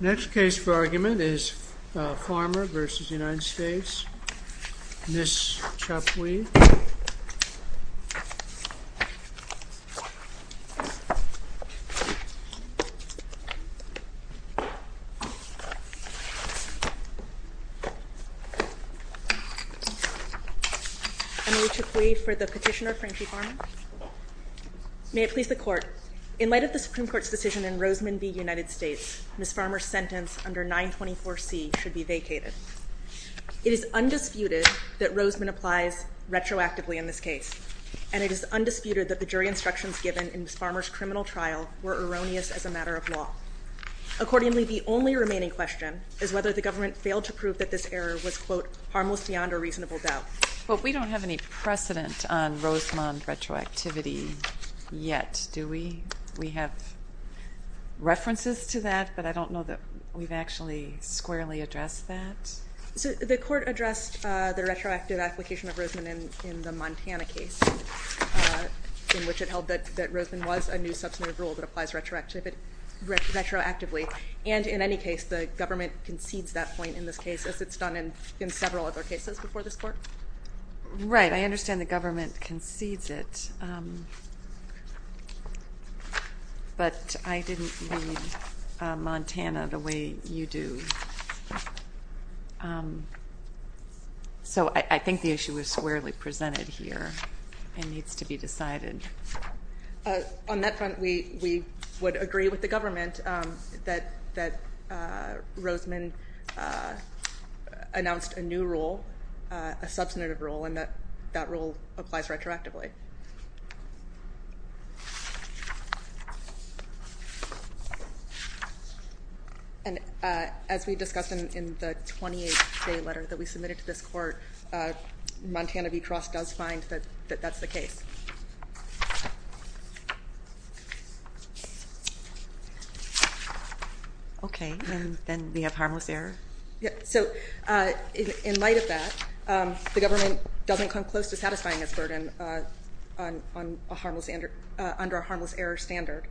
Next case for argument is Farmer v. United States, Ms. Chapwee. Emily Chapwee for the petitioner, Franchie Farmer. May it please the Court. In light of the Supreme Court's decision in Rosemond v. United States, Ms. Farmer's sentence under 924C should be vacated. It is undisputed that Rosemond applies retroactively in this case, and it is undisputed that the jury instructions given in Ms. Farmer's criminal trial were erroneous as a matter of law. Accordingly, the only remaining question is whether the government failed to prove that this error was, quote, We don't have any precedent on Rosemond retroactivity yet, do we? We have references to that, but I don't know that we've actually squarely addressed that. So the Court addressed the retroactive application of Rosemond in the Montana case, in which it held that Rosemond was a new substantive rule that applies retroactively, and in any case, the government concedes that point in this case, as it's done in several other cases before this Court. Right. I understand the government concedes it, but I didn't read Montana the way you do. So I think the issue is squarely presented here and needs to be decided. On that front, we would agree with the government that Rosemond announced a new rule, a substantive rule, and that that rule applies retroactively. Okay. And as we discussed in the 28th day letter that we submitted to this Court, Montana v. Cross does find that that's the case. Okay. And then we have harmless error? So in light of that, the government doesn't come close to satisfying its burden under a harmless error standard.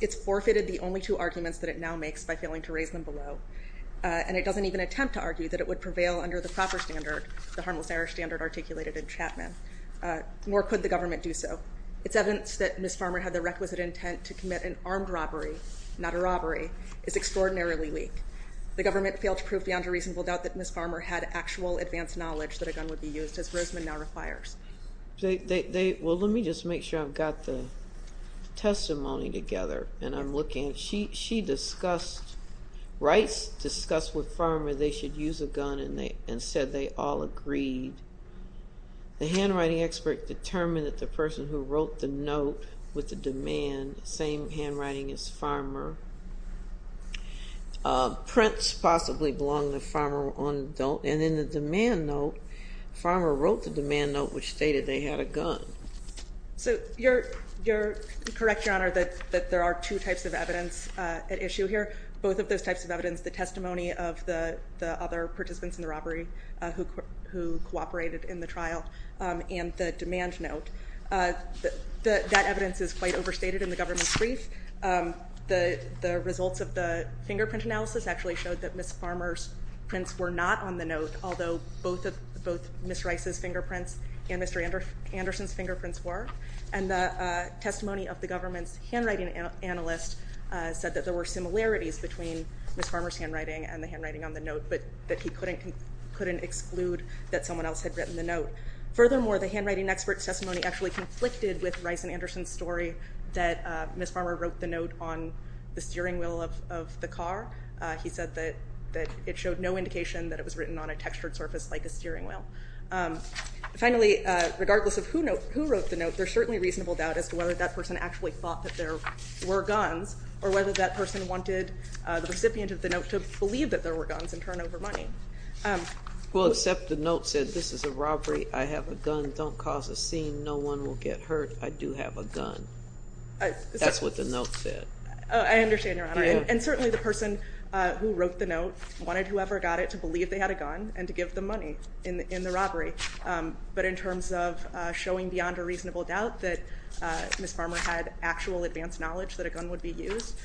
It's forfeited the only two arguments that it now makes by failing to raise them below, and it doesn't even attempt to argue that it would prevail under the proper standard, the harmless error standard articulated in Chapman, nor could the government do so. It's evidence that Ms. Farmer had the requisite intent to commit an armed robbery, not a robbery, is extraordinarily weak. The government failed to prove beyond a reasonable doubt that Ms. Farmer had actual advanced knowledge that a gun would be used, as Rosemond now requires. Well, let me just make sure I've got the testimony together, and I'm looking. She writes, discussed with Farmer they should use a gun, and said they all agreed. The handwriting expert determined that the person who wrote the note with the demand, same handwriting as Farmer, prints possibly belong to Farmer on the note, and in the demand note, Farmer wrote the demand note which stated they had a gun. So you're correct, Your Honor, that there are two types of evidence at issue here, both of those types of evidence, the testimony of the other participants in the robbery who cooperated in the trial, and the demand note. That evidence is quite overstated in the government's brief. The results of the fingerprint analysis actually showed that Ms. Farmer's prints were not on the note, although both Ms. Rice's fingerprints and Mr. Anderson's fingerprints were, and the testimony of the government's handwriting analyst said that there were similarities between Ms. Farmer's handwriting and the handwriting on the note, but that he couldn't exclude that someone else had written the note. Furthermore, the handwriting expert's testimony actually conflicted with Rice and Anderson's story that Ms. Farmer wrote the note on the steering wheel of the car. He said that it showed no indication that it was written on a textured surface like a steering wheel. Finally, regardless of who wrote the note, there's certainly reasonable doubt as to whether that person actually thought that there were guns or whether that person wanted the recipient of the note to believe that there were guns and turn over money. Well, except the note said, this is a robbery, I have a gun, don't cause a scene, no one will get hurt, I do have a gun. That's what the note said. I understand, Your Honor. And certainly the person who wrote the note wanted whoever got it to believe they had a gun and to give them money in the robbery. But in terms of showing beyond a reasonable doubt that Ms. Farmer had actual advanced knowledge that a gun would be used,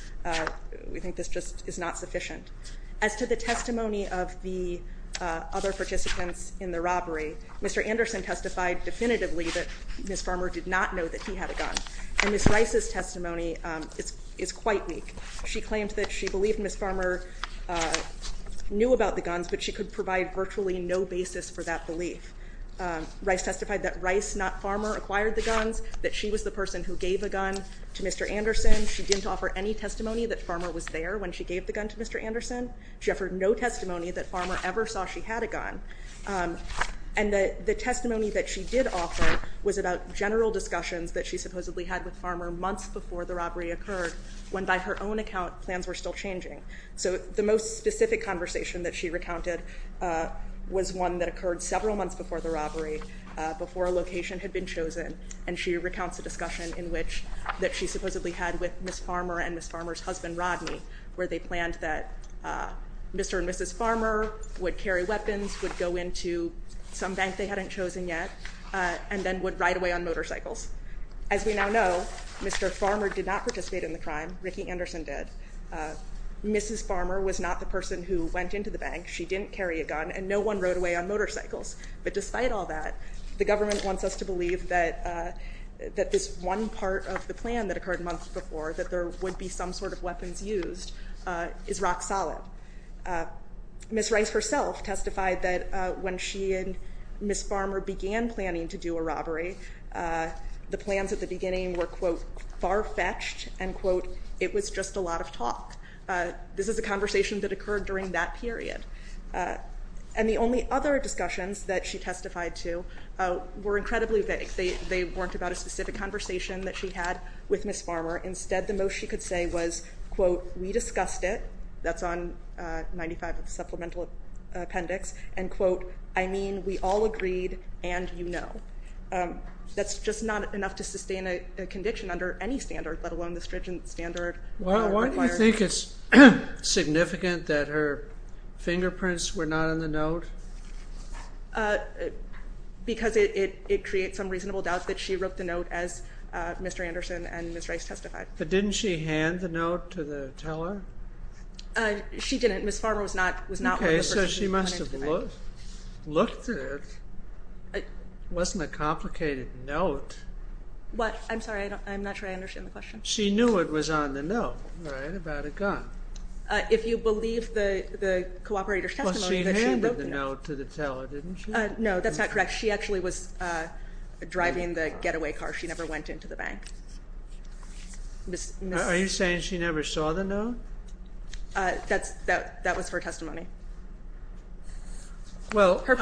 we think this just is not sufficient. As to the testimony of the other participants in the robbery, Mr. Anderson testified definitively that Ms. Farmer did not know that he had a gun, and Ms. Rice's testimony is quite weak. She claimed that she believed Ms. Farmer knew about the guns, but she could provide virtually no basis for that belief. Rice testified that Rice, not Farmer, acquired the guns, that she was the person who gave a gun to Mr. Anderson. She didn't offer any testimony that Farmer was there when she gave the gun to Mr. Anderson. She offered no testimony that Farmer ever saw she had a gun. And the testimony that she did offer was about general discussions that she supposedly had with Farmer months before the robbery occurred, when, by her own account, plans were still changing. So the most specific conversation that she recounted was one that occurred several months before the robbery, before a location had been chosen, and she recounts a discussion that she supposedly had with Ms. Farmer and Ms. Farmer's husband, Rodney, where they planned that Mr. and Mrs. Farmer would carry weapons, would go into some bank they hadn't chosen yet, and then would ride away on motorcycles. As we now know, Mr. Farmer did not participate in the crime. Ricky Anderson did. Mrs. Farmer was not the person who went into the bank. She didn't carry a gun, and no one rode away on motorcycles. But despite all that, the government wants us to believe that this one part of the plan that occurred months before, that there would be some sort of weapons used, is rock solid. Ms. Rice herself testified that when she and Ms. Farmer began planning to do a robbery, the plans at the beginning were, quote, far-fetched, and, quote, it was just a lot of talk. This is a conversation that occurred during that period. And the only other discussions that she testified to were incredibly vague. They weren't about a specific conversation that she had with Ms. Farmer. Instead, the most she could say was, quote, we discussed it. That's on 95 of the supplemental appendix. And, quote, I mean, we all agreed and you know. That's just not enough to sustain a condition under any standard, let alone the stringent standard. Why do you think it's significant that her fingerprints were not in the note? Because it creates some reasonable doubt that she wrote the note as Mr. Anderson and Ms. Rice testified. But didn't she hand the note to the teller? She didn't. Ms. Farmer was not one of the persons. Okay, so she must have looked at it. It wasn't a complicated note. What? I'm sorry. I'm not sure I understand the question. She knew it was on the note, right, about a gun. If you believe the cooperator's testimony that she wrote the note. Well, she handed the note to the teller, didn't she? No, that's not correct. She actually was driving the getaway car. She never went into the bank. Are you saying she never saw the note? That was her testimony. Her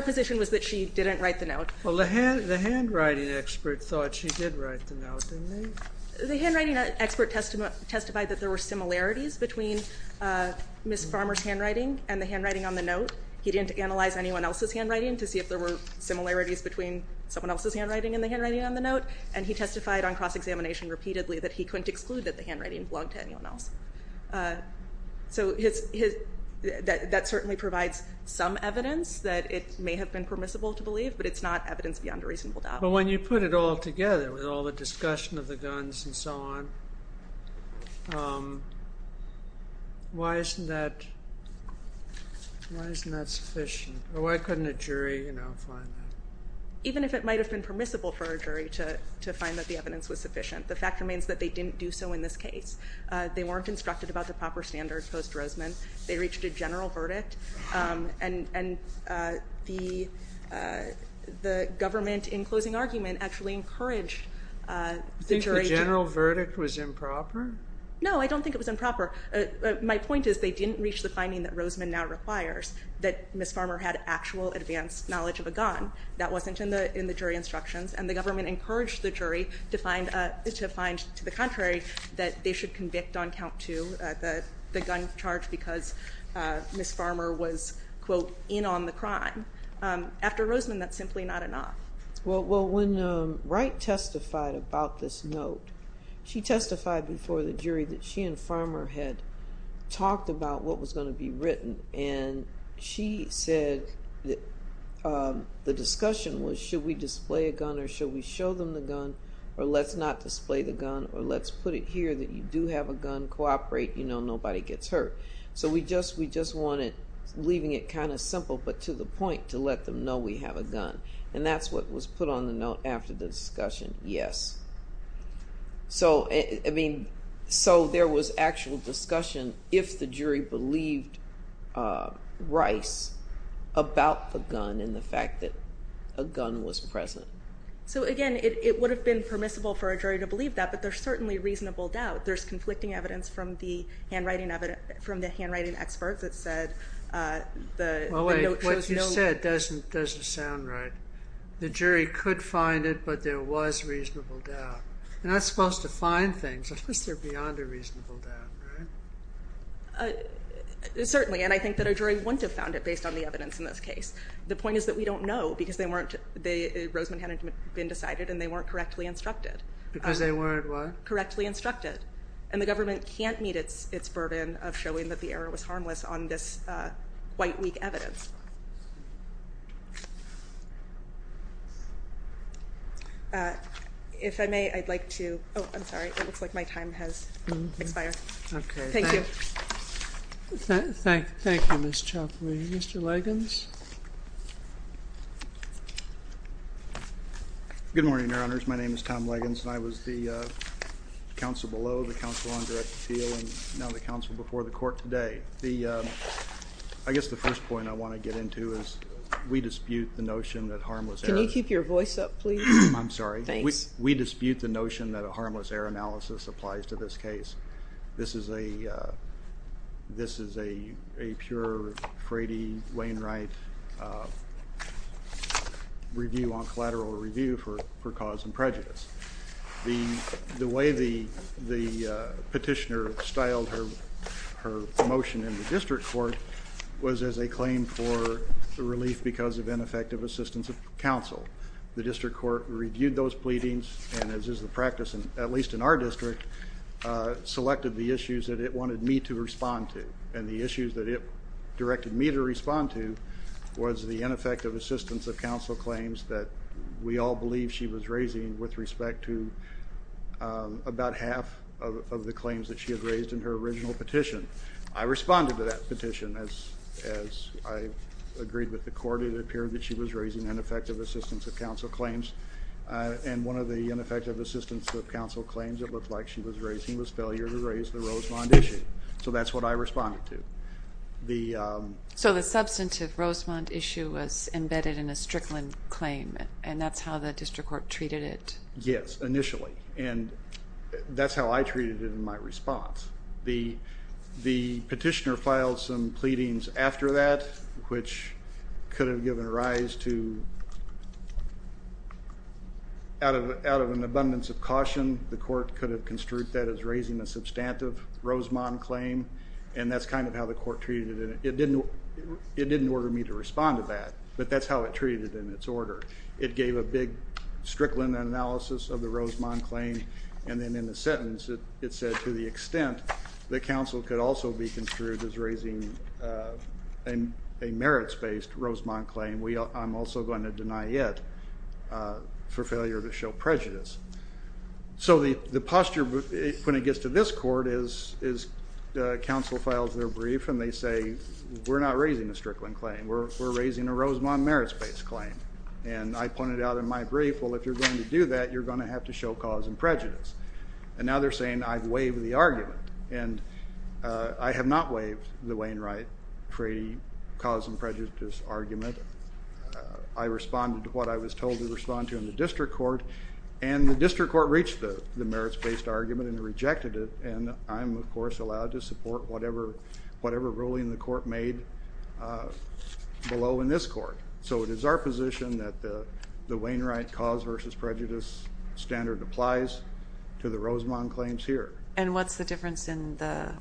position was that she didn't write the note. Well, the handwriting expert thought she did write the note, didn't he? The handwriting expert testified that there were similarities between Ms. Farmer's handwriting and the handwriting on the note. He didn't analyze anyone else's handwriting to see if there were similarities between someone else's handwriting and the handwriting on the note. And he testified on cross-examination repeatedly that he couldn't exclude that the handwriting belonged to anyone else. So that certainly provides some evidence that it may have been permissible to believe, but it's not evidence beyond a reasonable doubt. But when you put it all together, with all the discussion of the guns and so on, why isn't that sufficient? Why couldn't a jury find that? Even if it might have been permissible for a jury to find that the evidence was sufficient, the fact remains that they didn't do so in this case. They weren't instructed about the proper standards post-Roseman. They reached a general verdict. And the government, in closing argument, actually encouraged the jury to- Do you think the general verdict was improper? No, I don't think it was improper. My point is they didn't reach the finding that Roseman now requires, that Ms. Farmer had actual advanced knowledge of a gun. That wasn't in the jury instructions. And the government encouraged the jury to find, to the contrary, that they should convict on count two the gun charge because Ms. Farmer was, quote, in on the crime. After Roseman, that's simply not enough. Well, when Wright testified about this note, she testified before the jury that she and Farmer had talked about what was going to be written. And she said that the discussion was should we display a gun or should we show them the gun or let's not display the gun or let's put it here that you do have a gun, cooperate, you know, nobody gets hurt. So we just wanted, leaving it kind of simple but to the point, to let them know we have a gun. And that's what was put on the note after the discussion, yes. So, I mean, so there was actual discussion if the jury believed Rice about the gun and the fact that a gun was present. So, again, it would have been permissible for a jury to believe that, but there's certainly reasonable doubt. There's conflicting evidence from the handwriting experts that said the note showed no- You're not supposed to find things unless they're beyond a reasonable doubt, right? Certainly, and I think that a jury wouldn't have found it based on the evidence in this case. The point is that we don't know because they weren't, Roseman hadn't been decided and they weren't correctly instructed. Because they weren't what? Correctly instructed. And the government can't meet its burden of showing that the error was harmless on this quite weak evidence. If I may, I'd like to, oh, I'm sorry. It looks like my time has expired. Okay. Thank you. Thank you, Ms. Chokley. Mr. Leggings? Good morning, Your Honors. My name is Tom Leggings and I was the counsel below, the counsel on direct appeal, and now the counsel before the court today. I guess the first point I want to get into is we dispute the notion that harmless errors- Can you keep your voice up, please? I'm sorry. Thanks. We dispute the notion that a harmless error analysis applies to this case. This is a pure Frady-Wainwright review on collateral review for cause and prejudice. The way the petitioner styled her motion in the district court was as a claim for relief because of ineffective assistance of counsel. The district court reviewed those pleadings and as is the practice, at least in our district, selected the issues that it wanted me to respond to. And the issues that it directed me to respond to was the ineffective assistance of counsel claims that we all believe she was raising with respect to about half of the claims that she had raised in her original petition. I responded to that petition as I agreed with the court. It appeared that she was raising ineffective assistance of counsel claims, and one of the ineffective assistance of counsel claims it looked like she was raising was failure to raise the Rosemond issue. So that's what I responded to. So the substantive Rosemond issue was embedded in a Strickland claim, and that's how the district court treated it? Yes, initially. And that's how I treated it in my response. The petitioner filed some pleadings after that, which could have given rise to, out of an abundance of caution, the court could have construed that as raising a substantive Rosemond claim. And that's kind of how the court treated it. It didn't order me to respond to that, but that's how it treated it in its order. It gave a big Strickland analysis of the Rosemond claim, and then in a sentence it said to the extent that counsel could also be construed as raising a merits-based Rosemond claim, I'm also going to deny it for failure to show prejudice. So the posture when it gets to this court is counsel files their brief and they say, we're not raising a Strickland claim. We're raising a Rosemond merits-based claim. And I pointed out in my brief, well, if you're going to do that, you're going to have to show cause and prejudice. And now they're saying I've waived the argument, and I have not waived the Wainwright-Frady cause and prejudice argument. I responded to what I was told to respond to in the district court, and the district court reached the merits-based argument and rejected it. And I'm, of course, allowed to support whatever ruling the court made below in this court. So it is our position that the Wainwright cause versus prejudice standard applies to the Rosemond claims here. And what's the difference in the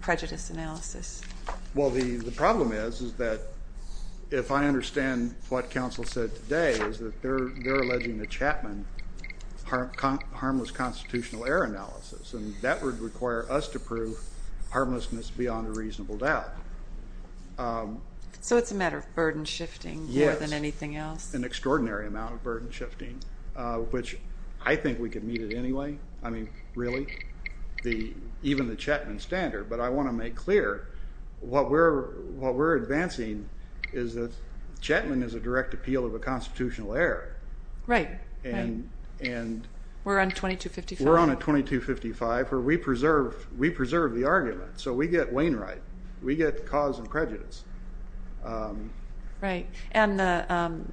prejudice analysis? Well, the problem is, is that if I understand what counsel said today, is that they're alleging the Chapman harmless constitutional error analysis. And that would require us to prove harmlessness beyond a reasonable doubt. So it's a matter of burden shifting more than anything else? Yes. An extraordinary amount of burden shifting, which I think we could meet it anyway. I mean, really? Even the Chapman standard. But I want to make clear, what we're advancing is that Chapman is a direct appeal of a constitutional error. Right. And we're on 2255? We're on a 2255, where we preserve the argument. So we get Wainwright. We get cause and prejudice. Right. And the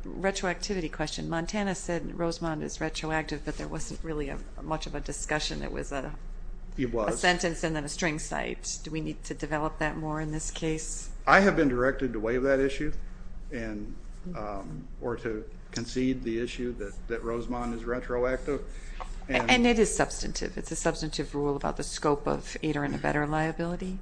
retroactivity question. Montana said Rosemond is retroactive, but there wasn't really much of a discussion. It was a sentence and then a string cite. Do we need to develop that more in this case? I have been directed to waive that issue, or to concede the issue that Rosemond is retroactive. And it is substantive. It's a substantive rule about the scope of aider and abetter liability?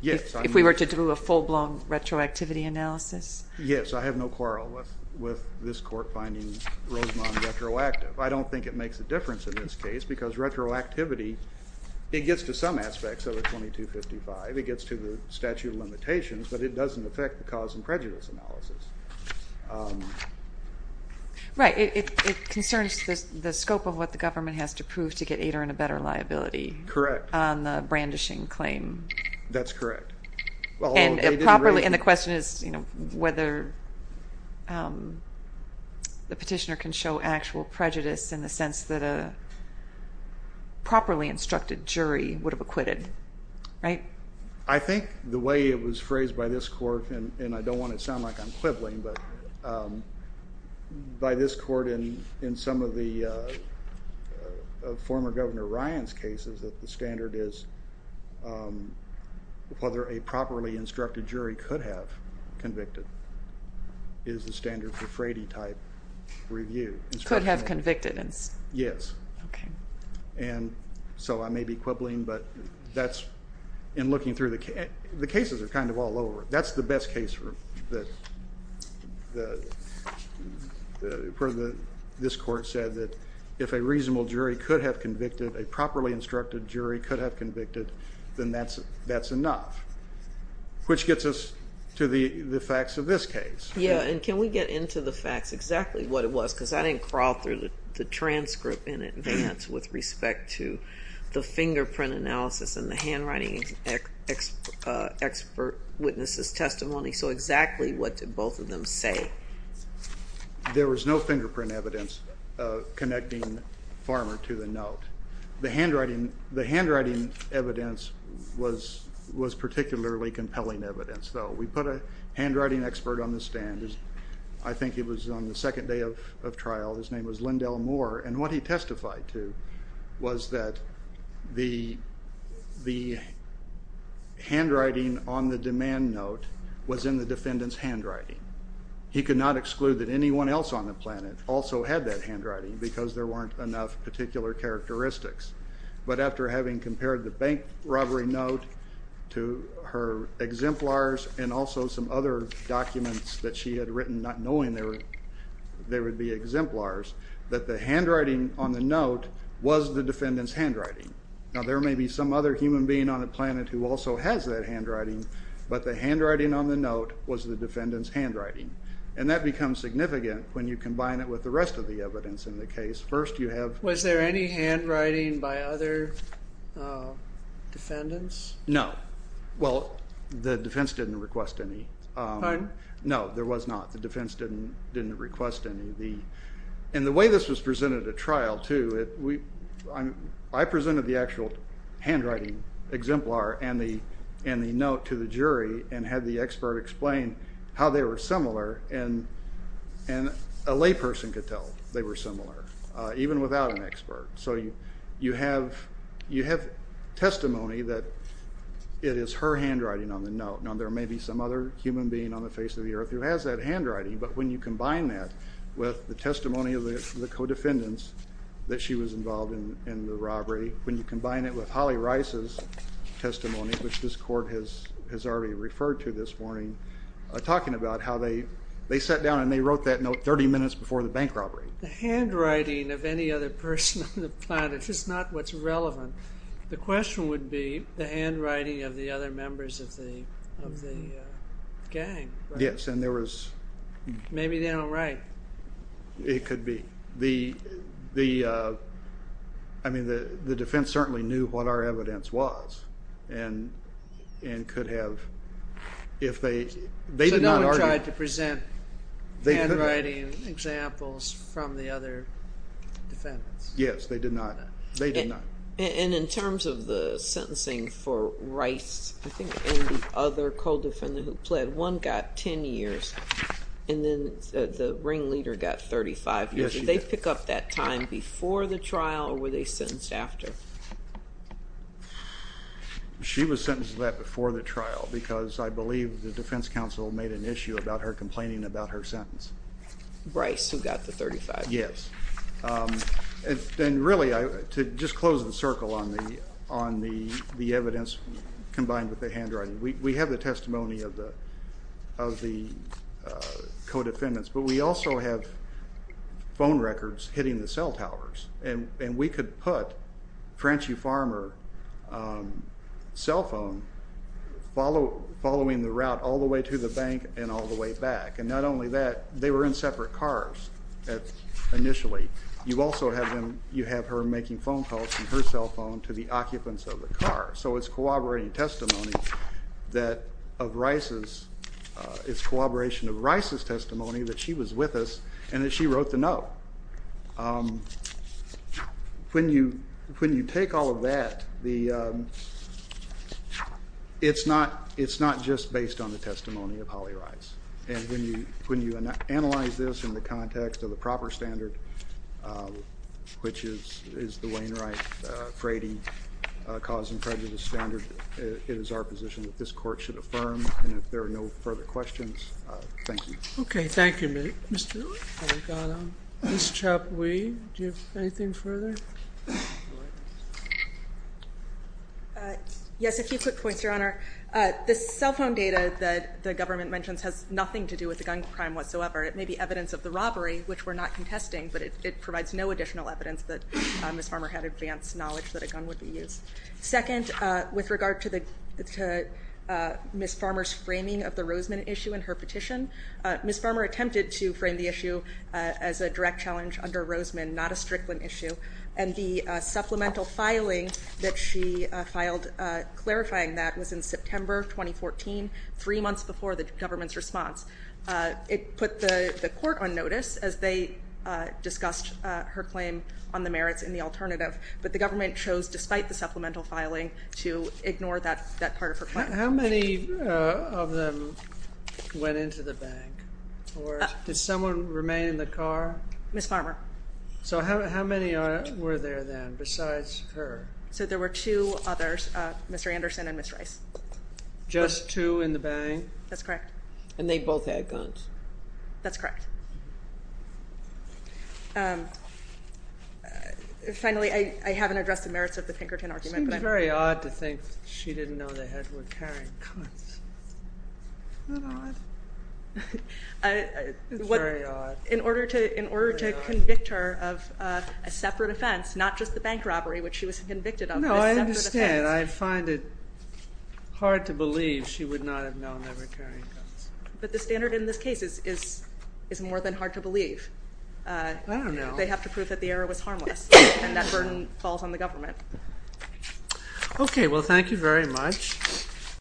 Yes. If we were to do a full-blown retroactivity analysis? Yes. I have no quarrel with this court finding Rosemond retroactive. I don't think it makes a difference in this case, because retroactivity, it gets to some aspects of a 2255. It gets to the statute of limitations, but it doesn't affect the cause and prejudice analysis. Right. It concerns the scope of what the government has to prove to get aider and abetter liability. Correct. On the brandishing claim. That's correct. And the question is whether the petitioner can show actual prejudice in the sense that a properly instructed jury would have acquitted. Right? I think the way it was phrased by this court, and I don't want to sound like I'm quibbling, but by this court in some of the former Governor Ryan's cases, that the standard is whether a properly instructed jury could have convicted is the standard for Frady-type review. Could have convicted. Yes. And so I may be quibbling, but that's in looking through the cases. The cases are kind of all over. That's the best case where this court said that if a reasonable jury could have convicted, a properly instructed jury could have convicted, then that's enough, which gets us to the facts of this case. Yeah, and can we get into the facts exactly what it was? Because I didn't crawl through the transcript in advance with respect to the fingerprint analysis and the handwriting expert witnesses' testimony. So exactly what did both of them say? There was no fingerprint evidence connecting Farmer to the note. The handwriting evidence was particularly compelling evidence, though. We put a handwriting expert on the stand. I think it was on the second day of trial. His name was Lindell Moore. And what he testified to was that the handwriting on the demand note was in the defendant's handwriting. He could not exclude that anyone else on the planet also had that handwriting because there weren't enough particular characteristics. But after having compared the bank robbery note to her exemplars and also some other documents that she had written not knowing they would be exemplars, that the handwriting on the note was the defendant's handwriting. Now there may be some other human being on the planet who also has that handwriting, but the handwriting on the note was the defendant's handwriting. And that becomes significant when you combine it with the rest of the evidence in the case. Was there any handwriting by other defendants? No. Well, the defense didn't request any. Pardon? No, there was not. The defense didn't request any. And the way this was presented at trial, too, I presented the actual handwriting exemplar and the note to the jury and had the expert explain how they were similar, and a layperson could tell they were similar even without an expert. So you have testimony that it is her handwriting on the note. Now there may be some other human being on the face of the earth who has that handwriting, but when you combine that with the testimony of the co-defendants that she was involved in the robbery, when you combine it with Holly Rice's testimony, which this court has already referred to this morning, talking about how they sat down and they wrote that note 30 minutes before the bank robbery. The handwriting of any other person on the planet is not what's relevant. The question would be the handwriting of the other members of the gang. Yes. Maybe they don't write. It could be. I mean, the defense certainly knew what our evidence was and could have. So no one tried to present handwriting examples from the other defendants? Yes, they did not. They did not. And in terms of the sentencing for Rice, I think, and the other co-defendant who pled, one got 10 years and then the ringleader got 35 years. Did they pick up that time before the trial or were they sentenced after? She was sentenced to that before the trial because I believe the defense counsel made an issue about her complaining about her sentence. Rice, who got the 35 years. Yes. And really, to just close the circle on the evidence combined with the handwriting, we have the testimony of the co-defendants, but we also have phone records hitting the cell towers, and we could put Frenchie Farmer's cell phone following the route all the way to the bank and all the way back. And not only that, they were in separate cars initially. You also have her making phone calls from her cell phone to the occupants of the car. So it's corroborating testimony that of Rice's, it's corroboration of Rice's testimony that she was with us and that she wrote the note. When you take all of that, it's not just based on the testimony of Holly Rice. And when you analyze this in the context of the proper standard, which is the Wainwright-Frady cause and prejudice standard, it is our position that this court should affirm. And if there are no further questions, thank you. Okay, thank you. Ms. Chapwee, do you have anything further? Yes, a few quick points, Your Honor. The cell phone data that the government mentions has nothing to do with the gun crime whatsoever. It may be evidence of the robbery, which we're not contesting, but it provides no additional evidence that Ms. Farmer had advanced knowledge that a gun would be used. Second, with regard to Ms. Farmer's framing of the Roseman issue in her petition, Ms. Farmer attempted to frame the issue as a direct challenge under Roseman, not a Strickland issue, and the supplemental filing that she filed clarifying that was in September 2014, three months before the government's response. It put the court on notice as they discussed her claim on the merits in the alternative, but the government chose, despite the supplemental filing, to ignore that part of her claim. How many of them went into the bank? Or did someone remain in the car? Ms. Farmer. So how many were there then besides her? So there were two others, Mr. Anderson and Ms. Rice. Just two in the bank? That's correct. And they both had guns? That's correct. Finally, I haven't addressed the merits of the Pinkerton argument. It seems very odd to think she didn't know they were carrying guns. Isn't that odd? It's very odd. In order to convict her of a separate offense, not just the bank robbery, which she was convicted of. No, I understand. I find it hard to believe she would not have known they were carrying guns. But the standard in this case is more than hard to believe. I don't know. They have to prove that the error was harmless, and that burden falls on the government. Okay, well, thank you very much.